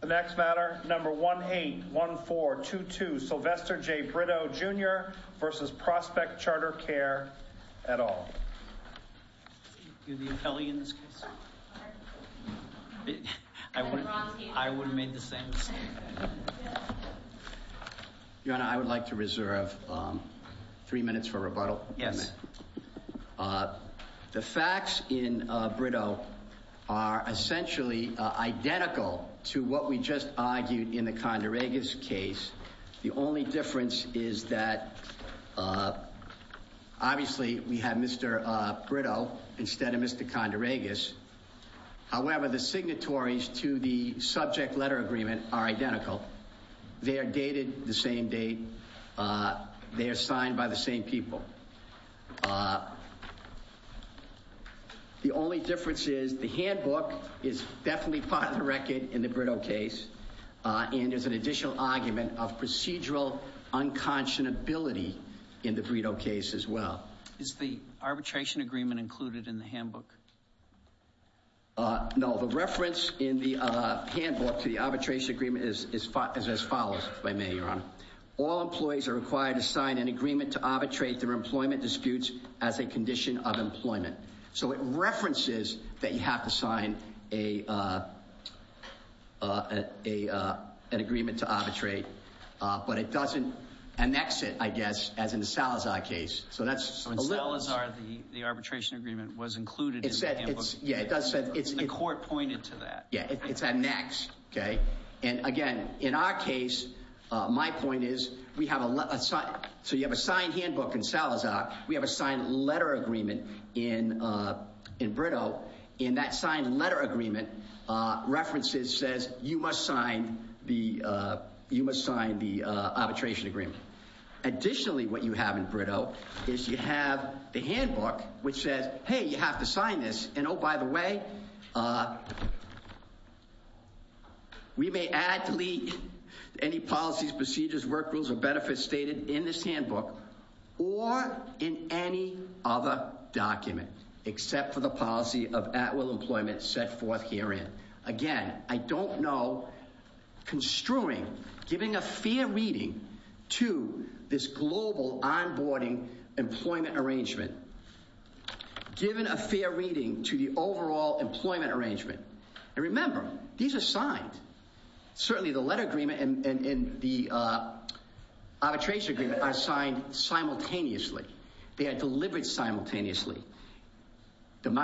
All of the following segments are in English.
The next matter number 1 8 1 4 2 2 Sylvester J Brito jr. versus Prospect CharterCare at all. You're the appellee in this case? I would have made the same mistake. Your Honor, I would like to reserve three minutes for rebuttal. Yes. The facts in Brito are essentially identical to what we just argued in the Condoregas case. The only difference is that obviously we have Mr. Brito instead of Mr. Condoregas. However, the signatories to the subject letter agreement are identical. They are dated the same date. They are signed by the same people. The only difference is the handbook is definitely part of the record in the Brito case. And there's an additional argument of procedural unconscionability in the Brito case as well. Is the arbitration agreement included in the handbook? No, the reference in the handbook to the arbitration agreement is as follows by me, Your Honor. All employees are required to sign an agreement to arbitrate their employment disputes as a condition of employment. So it references that you have to sign an agreement to arbitrate. But it doesn't annex it, I guess, as in the Salazar case. So in Salazar, the arbitration agreement was included in the handbook. The court pointed to that. Yeah, it's annexed. And again, in our case, my point is we have a signed handbook in Salazar. We have a signed letter agreement in Brito. And that signed letter agreement references says you must sign the arbitration agreement. Additionally, what you have in Brito is you have the handbook which says, hey, you have to sign this. And oh, by the way, we may add, delete any policies, procedures, work rules, or benefits stated in this handbook. Or in any other document except for the policy of at-will employment set forth herein. Again, I don't know construing, giving a fair reading to this global onboarding employment arrangement. Given a fair reading to the overall employment arrangement. And remember, these are signed. Certainly the letter agreement and the arbitration agreement are signed simultaneously. They are delivered simultaneously. The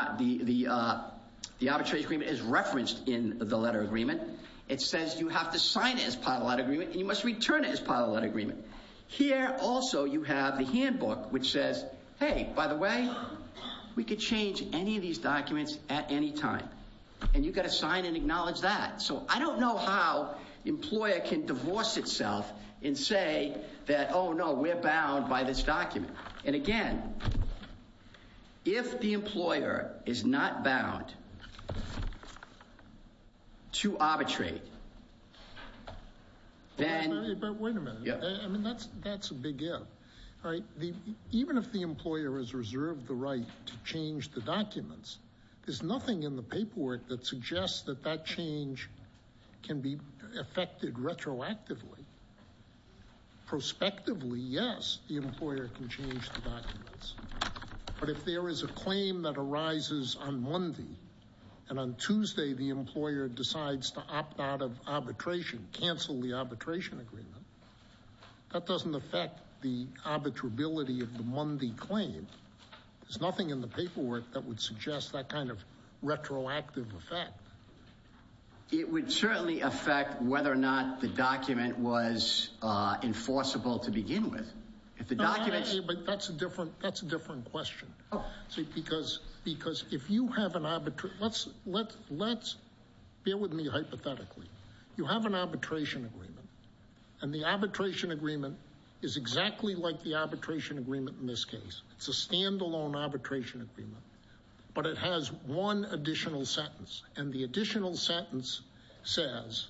arbitration agreement is referenced in the letter agreement. It says you have to sign it as part of the letter agreement and you must return it as part of the letter agreement. Here also you have the handbook which says, hey, by the way, we could change any of these documents at any time. And you've got to sign and acknowledge that. So I don't know how the employer can divorce itself and say that, oh, no, we're bound by this document. And again, if the employer is not bound to arbitrate, then- I mean, that's a big if. All right. Even if the employer has reserved the right to change the documents, there's nothing in the paperwork that suggests that that change can be affected retroactively. Prospectively, yes, the employer can change the documents. But if there is a claim that arises on Monday and on Tuesday the employer decides to opt out of arbitration, cancel the arbitration agreement, that doesn't affect the arbitrability of the Monday claim. There's nothing in the paperwork that would suggest that kind of retroactive effect. It would certainly affect whether or not the document was enforceable to begin with. But that's a different question. Because if you have an arbitration- let's bear with me hypothetically. You have an arbitration agreement. And the arbitration agreement is exactly like the arbitration agreement in this case. It's a standalone arbitration agreement. But it has one additional sentence. And the additional sentence says,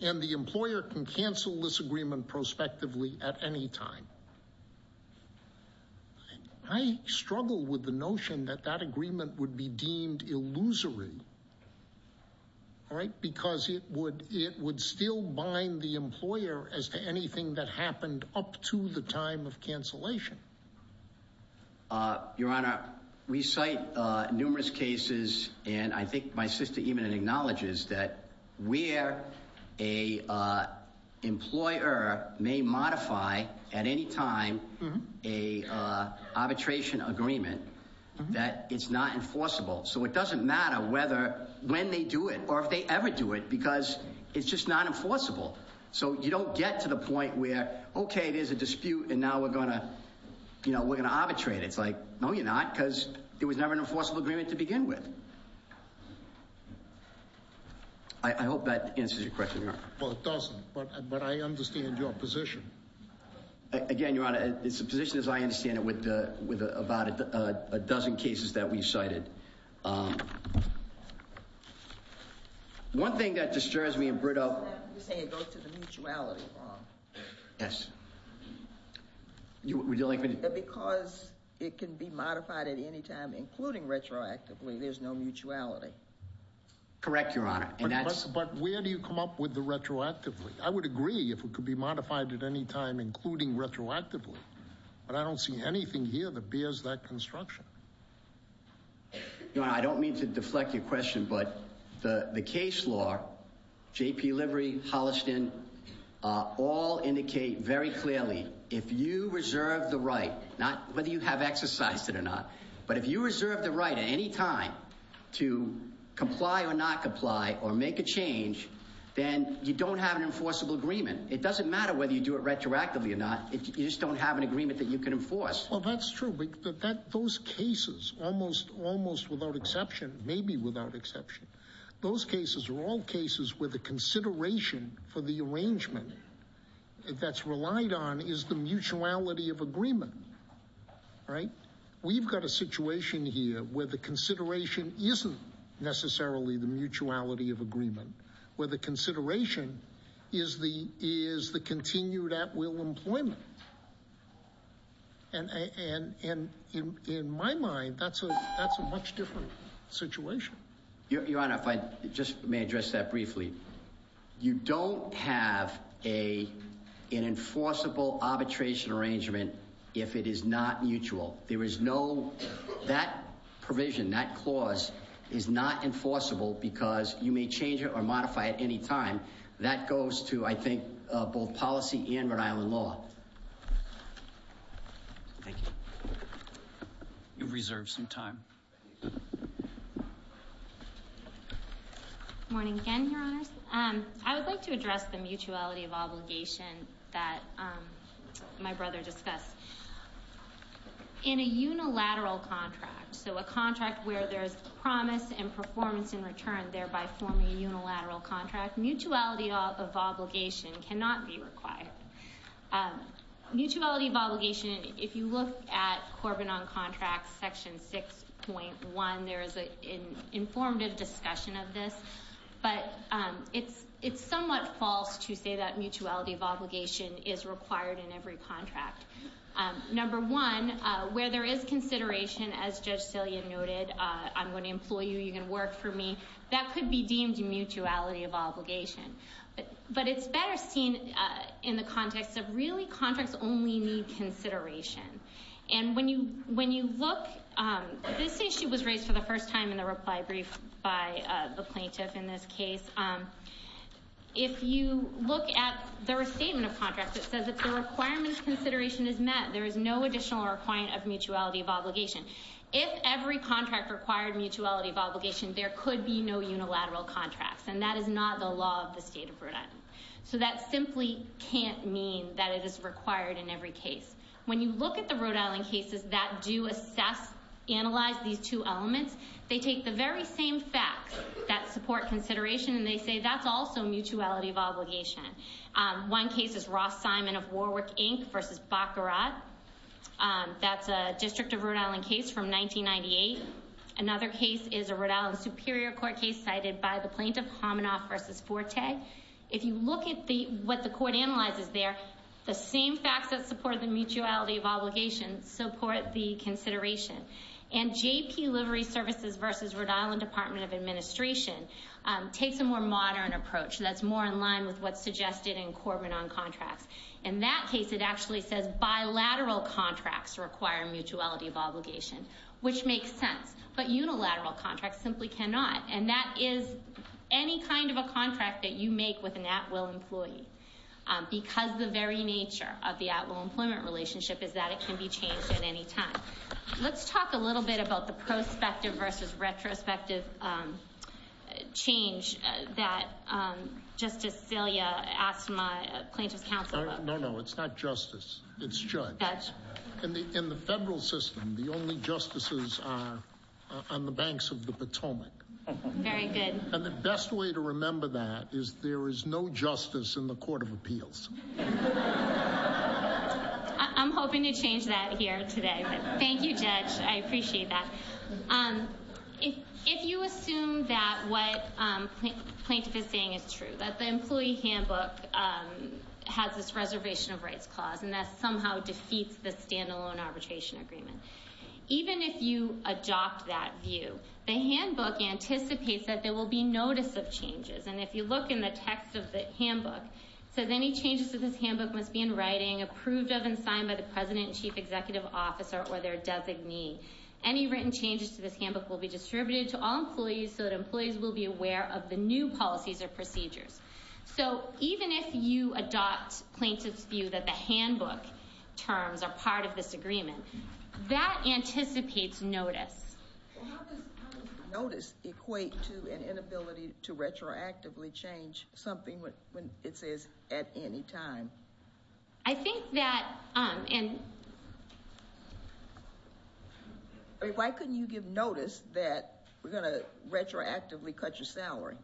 and the employer can cancel this agreement prospectively at any time. I struggle with the notion that that agreement would be deemed illusory. All right? Because it would still bind the employer as to anything that happened up to the time of cancellation. Your Honor, we cite numerous cases. And I think my sister even acknowledges that where an employer may modify at any time an arbitration agreement, that it's not enforceable. So it doesn't matter whether- when they do it or if they ever do it. Because it's just not enforceable. So you don't get to the point where, okay, there's a dispute and now we're going to arbitrate it. It's like, no you're not, because there was never an enforceable agreement to begin with. I hope that answers your question, Your Honor. Well, it doesn't, but I understand your position. Again, Your Honor, it's a position as I understand it with about a dozen cases that we've cited. One thing that disturbs me in Brito- You're saying it goes to the mutuality. Yes. Would you like me to- Because it can be modified at any time, including retroactively, there's no mutuality. Correct, Your Honor. But where do you come up with the retroactively? I would agree if it could be modified at any time, including retroactively. But I don't see anything here that bears that construction. Your Honor, I don't mean to deflect your question, but the case law, J.P. Livery, Holliston, all indicate very clearly, if you reserve the right, not whether you have exercised it or not, but if you reserve the right at any time to comply or not comply or make a change, then you don't have an enforceable agreement. It doesn't matter whether you do it retroactively or not, you just don't have an agreement that you can enforce. Well, that's true, but those cases, almost without exception, maybe without exception, those cases are all cases where the consideration for the arrangement that's relied on is the mutuality of agreement, right? We've got a situation here where the consideration isn't necessarily the mutuality of agreement, where the consideration is the continued at-will employment. And in my mind, that's a much different situation. Your Honor, if I just may address that briefly. You don't have an enforceable arbitration arrangement if it is not mutual. That provision, that clause, is not enforceable because you may change it or modify it at any time. That goes to, I think, both policy and Rhode Island law. Thank you. You've reserved some time. Good morning again, Your Honors. I would like to address the mutuality of obligation that my brother discussed. In a unilateral contract, so a contract where there's promise and performance in return, thereby forming a unilateral contract, mutuality of obligation cannot be required. Mutuality of obligation, if you look at Corbin on Contracts, Section 6.1, there is an informative discussion of this. But it's somewhat false to say that mutuality of obligation is required in every contract. Number one, where there is consideration, as Judge Sillian noted, I'm going to employ you, you're going to work for me, that could be deemed a mutuality of obligation. But it's better seen in the context of, really, contracts only need consideration. And when you look, this issue was raised for the first time in the reply brief by the plaintiff in this case. If you look at the restatement of contracts, it says if the requirement of consideration is met, there is no additional requirement of mutuality of obligation. If every contract required mutuality of obligation, there could be no unilateral contracts. And that is not the law of the state of Rhode Island. So that simply can't mean that it is required in every case. When you look at the Rhode Island cases that do assess, analyze these two elements, they take the very same facts that support consideration, and they say that's also mutuality of obligation. One case is Ross Simon of Warwick, Inc. versus Baccarat. That's a District of Rhode Island case from 1998. Another case is a Rhode Island Superior Court case cited by the plaintiff, Hamanoff versus Forte. If you look at what the court analyzes there, the same facts that support the mutuality of obligation support the consideration. And J.P. Livery Services versus Rhode Island Department of Administration takes a more modern approach that's more in line with what's suggested in Corbin on contracts. In that case, it actually says bilateral contracts require mutuality of obligation, which makes sense. But unilateral contracts simply cannot. And that is any kind of a contract that you make with an at-will employee because the very nature of the at-will employment relationship is that it can be changed at any time. Let's talk a little bit about the prospective versus retrospective change that Justice Celia asked my plaintiff's counsel about. No, no. It's not justice. It's judge. In the federal system, the only justices are on the banks of the Potomac. Very good. And the best way to remember that is there is no justice in the Court of Appeals. I'm hoping to change that here today. Thank you, Judge. I appreciate that. If you assume that what the plaintiff is saying is true, that the employee handbook has this reservation of rights clause and that somehow defeats the standalone arbitration agreement, even if you adopt that view, the handbook anticipates that there will be notice of changes. And if you look in the text of the handbook, it says any changes to this handbook must be in writing, approved of, and signed by the president and chief executive officer or their designee. Any written changes to this handbook will be distributed to all employees so that employees will be aware of the new policies or procedures. So even if you adopt plaintiff's view that the handbook terms are part of this agreement, that anticipates notice. How does notice equate to an inability to retroactively change something when it says at any time? I think that... Why couldn't you give notice that we're going to retroactively cut your salary?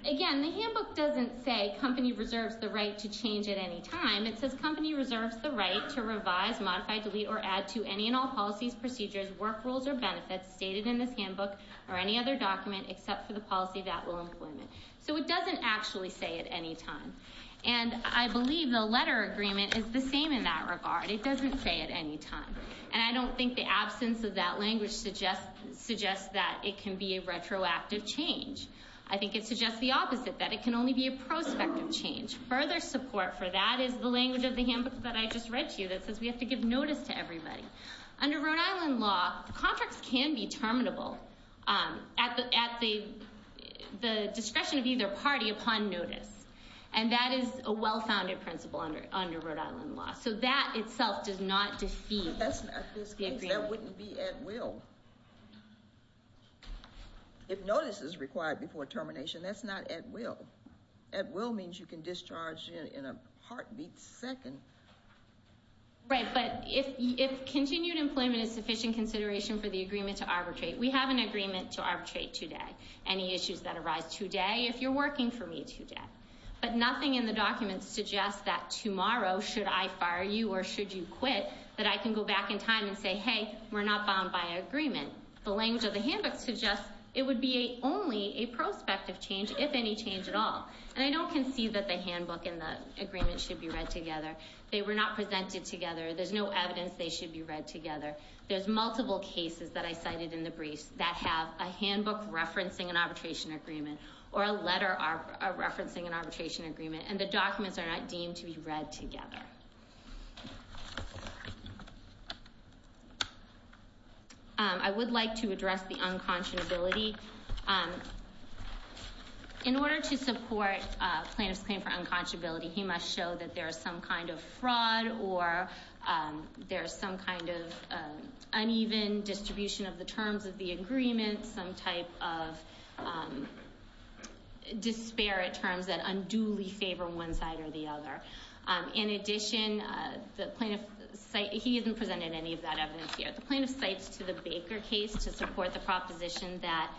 Again, the handbook doesn't say company reserves the right to change at any time. It says company reserves the right to revise, modify, delete, or add to any and all policies, procedures, work rules, or benefits stated in this handbook or any other document except for the policy that will implement. So it doesn't actually say at any time. And I believe the letter agreement is the same in that regard. It doesn't say at any time. And I don't think the absence of that language suggests that it can be a retroactive change. I think it suggests the opposite, that it can only be a prospective change. Further support for that is the language of the handbook that I just read to you that says we have to give notice to everybody. Under Rhode Island law, contracts can be terminable at the discretion of either party upon notice. And that is a well-founded principle under Rhode Island law. So that itself does not defeat the agreement. But that's not this case. That wouldn't be at will. If notice is required before termination, that's not at will. At will means you can discharge in a heartbeat second. Right, but if continued employment is sufficient consideration for the agreement to arbitrate, we have an agreement to arbitrate today. Any issues that arise today, if you're working for me today. But nothing in the document suggests that tomorrow, should I fire you or should you quit, that I can go back in time and say, hey, we're not bound by agreement. The language of the handbook suggests it would be only a prospective change, if any change at all. And I don't concede that the handbook and the agreement should be read together. They were not presented together. There's no evidence they should be read together. There's multiple cases that I cited in the briefs that have a handbook referencing an arbitration agreement or a letter referencing an arbitration agreement. And the documents are not deemed to be read together. I would like to address the unconscionability. In order to support plaintiff's claim for unconscionability, he must show that there is some kind of fraud or there is some kind of uneven distribution of the terms of the agreement, some type of disparate terms that unduly favor one side or the other. In addition, he hasn't presented any of that evidence here. The plaintiff cites to the Baker case to support the proposition that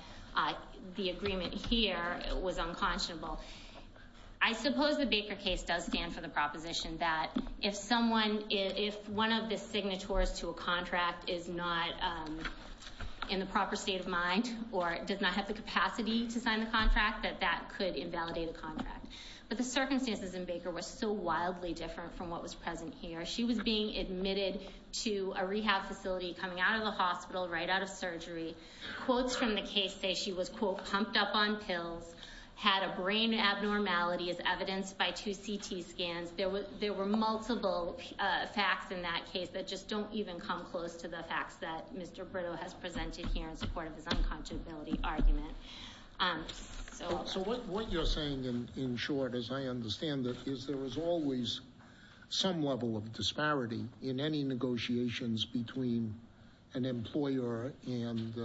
the agreement here was unconscionable. I suppose the Baker case does stand for the proposition that if someone, if one of the signatories to a contract is not in the proper state of mind or does not have the capacity to sign the contract, that that could invalidate a contract. But the circumstances in Baker were so wildly different from what was present here. She was being admitted to a rehab facility coming out of the hospital right out of surgery. Quotes from the case say she was, quote, pumped up on pills, had a brain abnormality as evidenced by two CT scans. There were multiple facts in that case that just don't even come close to the facts that Mr. Brito has presented here in support of his unconscionability argument. So what you're saying in short, as I understand it, is there is always some level of disparity in any negotiations between an employer and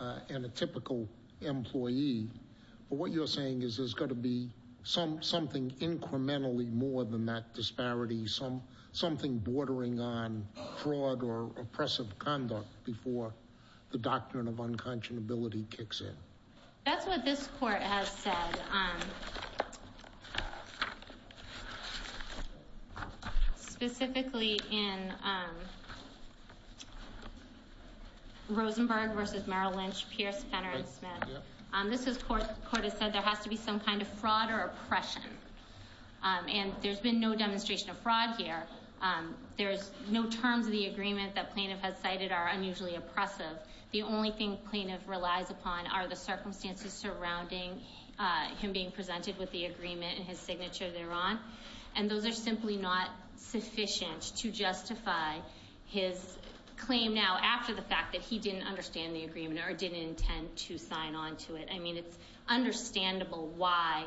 a typical employee. But what you're saying is there's got to be something incrementally more than that disparity, something bordering on fraud or oppressive conduct before the doctrine of unconscionability kicks in. That's what this court has said. Specifically in Rosenberg versus Merrill Lynch, Pierce, Fenner and Smith. This is court has said there has to be some kind of fraud or oppression. And there's been no demonstration of fraud here. There's no terms of the agreement that plaintiff has cited are unusually oppressive. The only thing plaintiff relies upon are the circumstances surrounding him being presented with the agreement and his signature thereon. And those are simply not sufficient to justify his claim now after the fact that he didn't understand the agreement or didn't intend to sign on to it. I mean, it's understandable why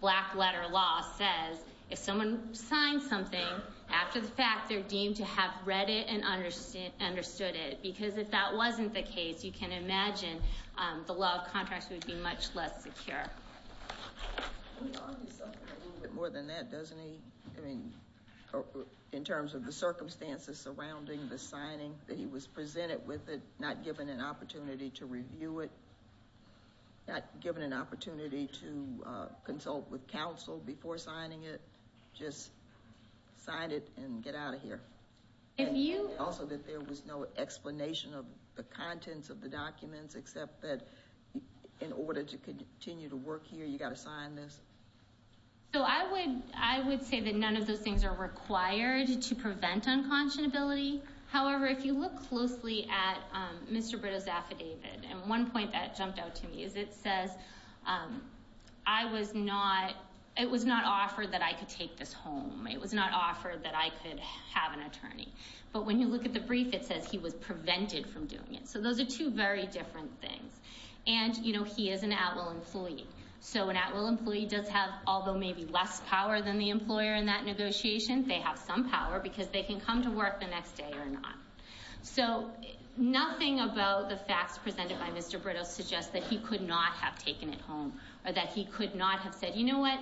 black letter law says if someone signs something after the fact, they're deemed to have read it and understood it. Because if that wasn't the case, you can imagine the law of contracts would be much less secure. More than that, doesn't he? I mean, in terms of the circumstances surrounding the signing that he was presented with it, not given an opportunity to review it. Not given an opportunity to consult with counsel before signing it. Just sign it and get out of here. Also that there was no explanation of the contents of the documents except that in order to continue to work here, you got to sign this. So I would say that none of those things are required to prevent unconscionability. However, if you look closely at Mr. Britto's affidavit, and one point that jumped out to me is it says, I was not, it was not offered that I could take this home. It was not offered that I could have an attorney. But when you look at the brief, it says he was prevented from doing it. So those are two very different things. And, you know, he is an at-will employee. So an at-will employee does have, although maybe less power than the employer in that negotiation, they have some power because they can come to work the next day or not. So nothing about the facts presented by Mr. Britto suggests that he could not have taken it home or that he could not have said, you know what,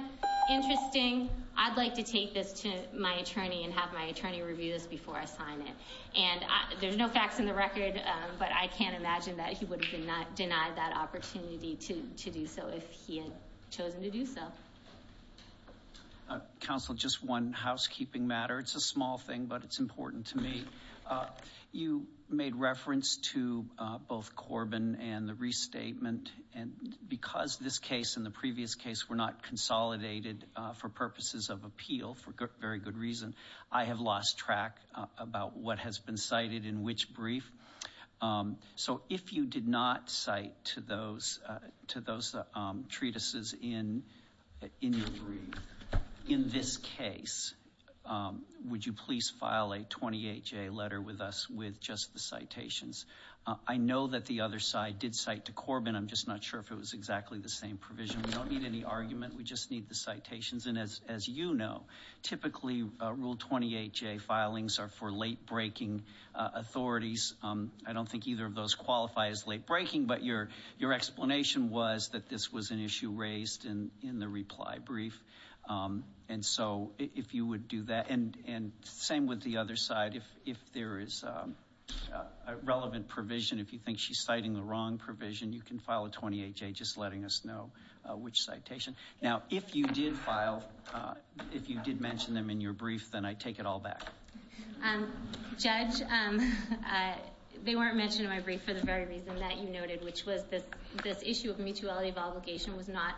interesting. I'd like to take this to my attorney and have my attorney review this before I sign it. And there's no facts in the record, but I can't imagine that he would have denied that opportunity to do so if he had chosen to do so. Counsel, just one housekeeping matter. It's a small thing, but it's important to me. You made reference to both Corbin and the restatement. And because this case and the previous case were not consolidated for purposes of appeal, for very good reason, I have lost track about what has been cited in which brief. So if you did not cite to those treatises in your brief, in this case, would you please file a 28-J letter with us with just the citations? I know that the other side did cite to Corbin. I'm just not sure if it was exactly the same provision. We don't need any argument. We just need the citations. Typically, Rule 28-J filings are for late-breaking authorities. I don't think either of those qualify as late-breaking, but your explanation was that this was an issue raised in the reply brief. And so if you would do that. And same with the other side. If there is a relevant provision, if you think she's citing the wrong provision, you can file a 28-J just letting us know which citation. Now, if you did file, if you did mention them in your brief, then I take it all back. Judge, they weren't mentioned in my brief for the very reason that you noted, which was this issue of mutuality of obligation was not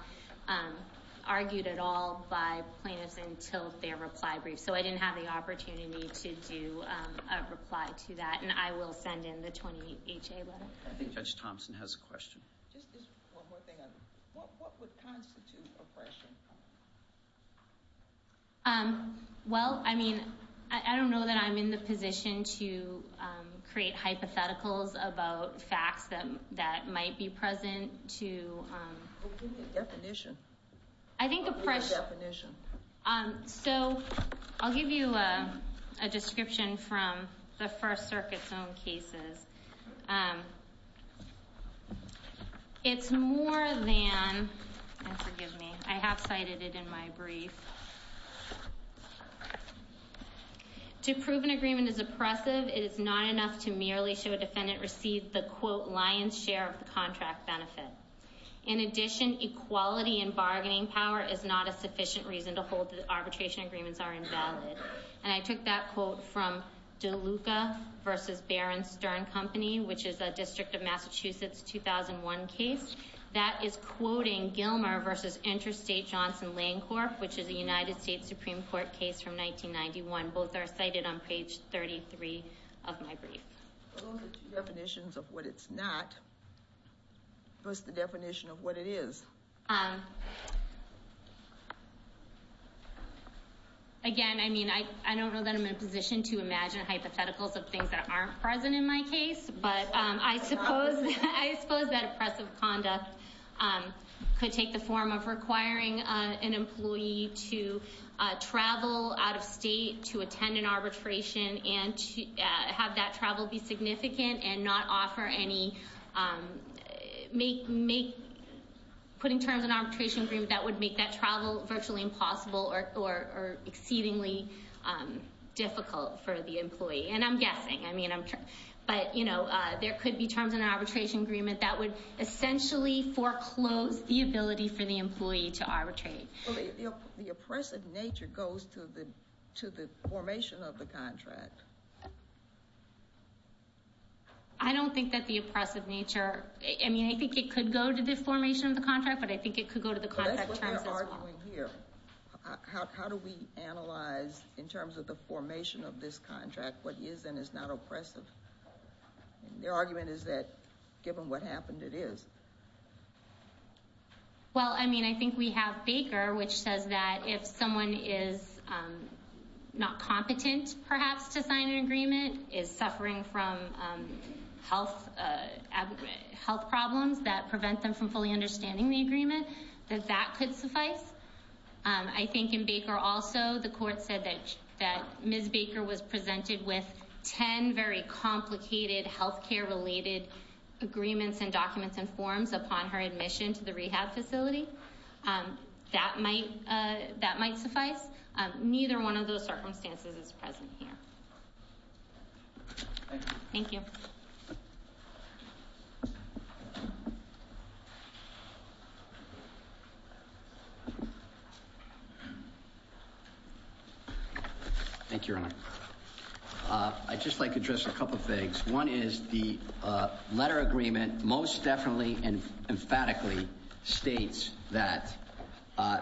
argued at all by plaintiffs until their reply brief. So I didn't have the opportunity to do a reply to that, and I will send in the 28-J letter. Just one more thing. What would constitute oppression? Well, I mean, I don't know that I'm in the position to create hypotheticals about facts that might be present to— Well, give me a definition. I think oppression— Give me a definition. So I'll give you a description from the First Circuit's own cases. It's more than—and forgive me, I have cited it in my brief. To prove an agreement is oppressive, it is not enough to merely show a defendant received the quote lion's share of the contract benefit. In addition, equality in bargaining power is not a sufficient reason to hold that arbitration agreements are invalid. And I took that quote from DeLuca v. Barron Stern Company, which is a District of Massachusetts 2001 case. That is quoting Gilmer v. Interstate Johnson-Lancorp, which is a United States Supreme Court case from 1991. Both are cited on page 33 of my brief. Those are two definitions of what it's not. What's the definition of what it is? Again, I mean, I don't know that I'm in a position to imagine hypotheticals of things that aren't present in my case. But I suppose that oppressive conduct could take the form of requiring an employee to travel out of state to attend an arbitration and have that travel be significant and not offer any—put in terms of an arbitration agreement that would make that travel virtually impossible or exceedingly difficult for the employee. And I'm guessing. I mean, I'm—but, you know, there could be terms in an arbitration agreement that would essentially foreclose the ability for the employee to arbitrate. The oppressive nature goes to the formation of the contract. I don't think that the oppressive nature—I mean, I think it could go to the formation of the contract, but I think it could go to the contract terms as well. That's what they're arguing here. How do we analyze, in terms of the formation of this contract, what is and is not oppressive? Their argument is that, given what happened, it is. Well, I mean, I think we have Baker, which says that if someone is not competent, perhaps, to sign an agreement, is suffering from health problems that prevent them from fully understanding the agreement, that that could suffice. I think in Baker also, the court said that Ms. Baker was presented with 10 very complicated healthcare-related agreements and documents and forms upon her admission to the rehab facility. That might suffice. Neither one of those circumstances is present here. Thank you. I'd just like to address a couple of things. One is the letter agreement most definitely and emphatically states that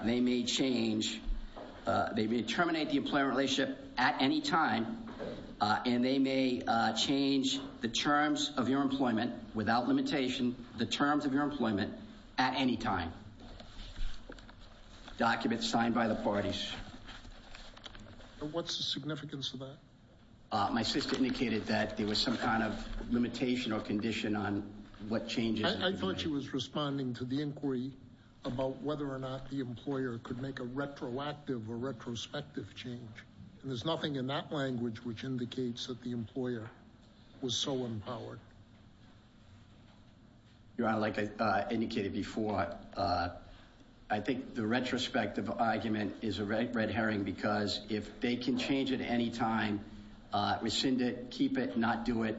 they may change—they may terminate the employment relationship at any time, and they may change the terms of your employment, without limitation, the terms of your employment at any time. Documents signed by the parties. What's the significance of that? My sister indicated that there was some kind of limitation or condition on what changes— I thought she was responding to the inquiry about whether or not the employer could make a retroactive or retrospective change, and there's nothing in that language which indicates that the employer was so empowered. Your Honor, like I indicated before, I think the retrospective argument is a red herring, because if they can change at any time, rescind it, keep it, not do it,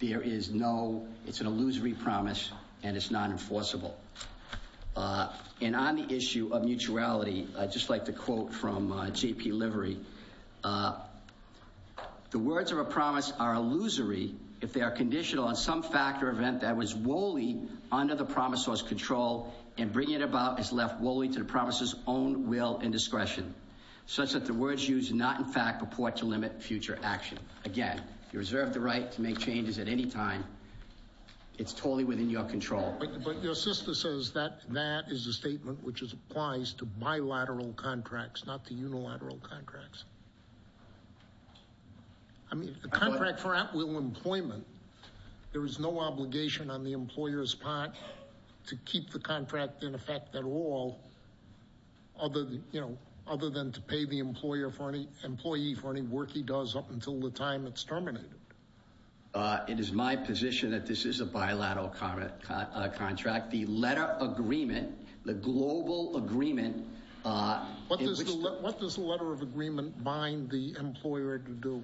there is no—it's an illusory promise, and it's not enforceable. And on the issue of mutuality, I'd just like to quote from J.P. Livery. The words of a promise are illusory if they are conditional on some fact or event that was wholly under the promisor's control and bringing it about is left wholly to the promisor's own will and discretion, such that the words used do not in fact purport to limit future action. Again, you reserve the right to make changes at any time. It's totally within your control. But your sister says that that is a statement which applies to bilateral contracts, not to unilateral contracts. I mean, a contract for at-will employment, there is no obligation on the employer's part to keep the contract in effect at all, other than to pay the employee for any work he does up until the time it's terminated. It is my position that this is a bilateral contract. The letter of agreement, the global agreement— What does the letter of agreement bind the employer to do?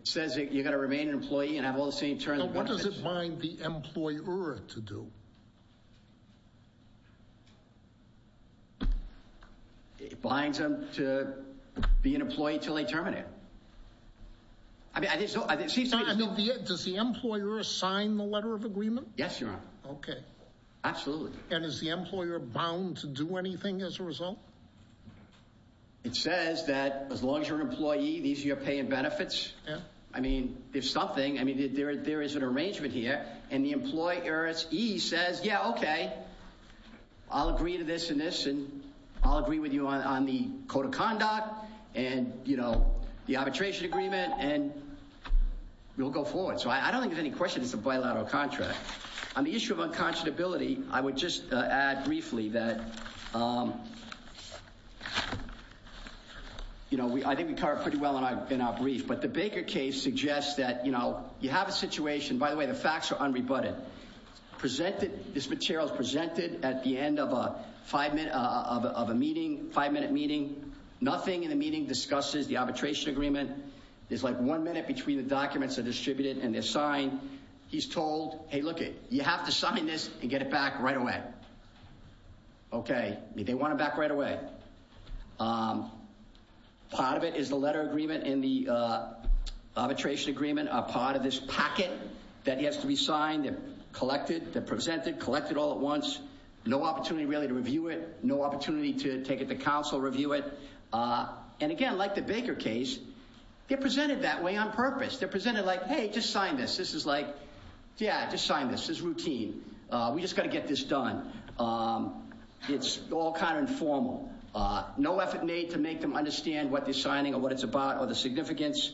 It says that you're going to remain an employee and have all the same terms— No, what does it bind the employer to do? It binds them to be an employee until they terminate it. Does the employer sign the letter of agreement? Yes, Your Honor. Okay. Absolutely. And is the employer bound to do anything as a result? It says that as long as you're an employee, these are your pay and benefits. Yeah. I mean, if something—I mean, there is an arrangement here, and the employee says, yeah, okay, I'll agree to this and this, and I'll agree with you on the code of conduct and the arbitration agreement, and we'll go forward. So I don't think there's any question it's a bilateral contract. On the issue of unconscionability, I would just add briefly that— The Baker case suggests that, you know, you have a situation—by the way, the facts are unrebutted. Presented—this material is presented at the end of a five-minute meeting. Nothing in the meeting discusses the arbitration agreement. There's like one minute between the documents are distributed and they're signed. He's told, hey, look, you have to sign this and get it back right away. Okay. They want it back right away. Part of it is the letter agreement and the arbitration agreement are part of this packet that has to be signed. They're collected. They're presented. Collected all at once. No opportunity really to review it. No opportunity to take it to counsel, review it. And, again, like the Baker case, they're presented that way on purpose. They're presented like, hey, just sign this. This is like, yeah, just sign this. This is routine. We just got to get this done. It's all kind of informal. No effort made to make them understand what they're signing or what it's about or the significance.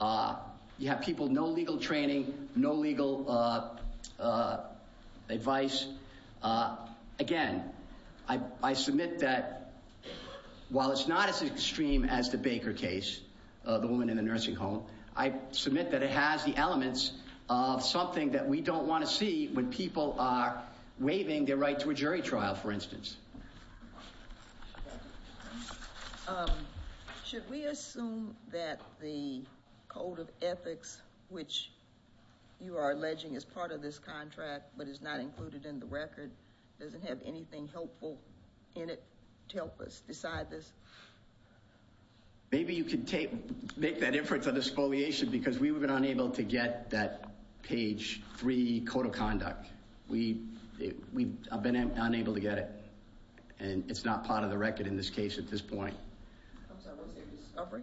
You have people, no legal training, no legal advice. Again, I submit that while it's not as extreme as the Baker case, the woman in the nursing home, I submit that it has the elements of something that we don't want to see when people are waiving their right to a jury trial, for instance. Should we assume that the code of ethics, which you are alleging is part of this contract but is not included in the record, doesn't have anything helpful in it to help us decide this? Maybe you can make that inference on exfoliation because we've been unable to get that page three code of conduct. We've been unable to get it. And it's not part of the record in this case at this point. I'm sorry, what was the discovery?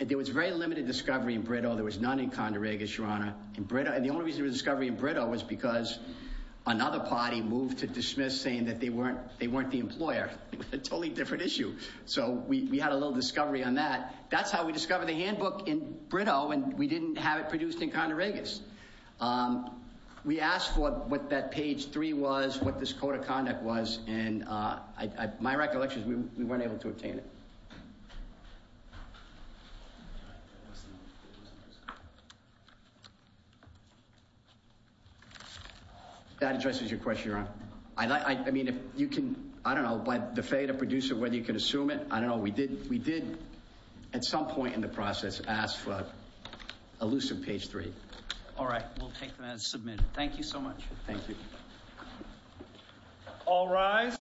There was very limited discovery in Brito. There was none in Conde Regis, Your Honor. And the only reason there was discovery in Brito was because another party moved to dismiss saying that they weren't the employer. A totally different issue. So we had a little discovery on that. That's how we discovered the handbook in Brito, and we didn't have it produced in Conde Regis. We asked for what that page three was, what this code of conduct was, and my recollection is we weren't able to obtain it. That addresses your question, Your Honor. I don't know by the fate of producer whether you can assume it. I don't know. We did at some point in the process ask for elusive page three. All right. We'll take that as submitted. Thank you so much. Thank you. All rise.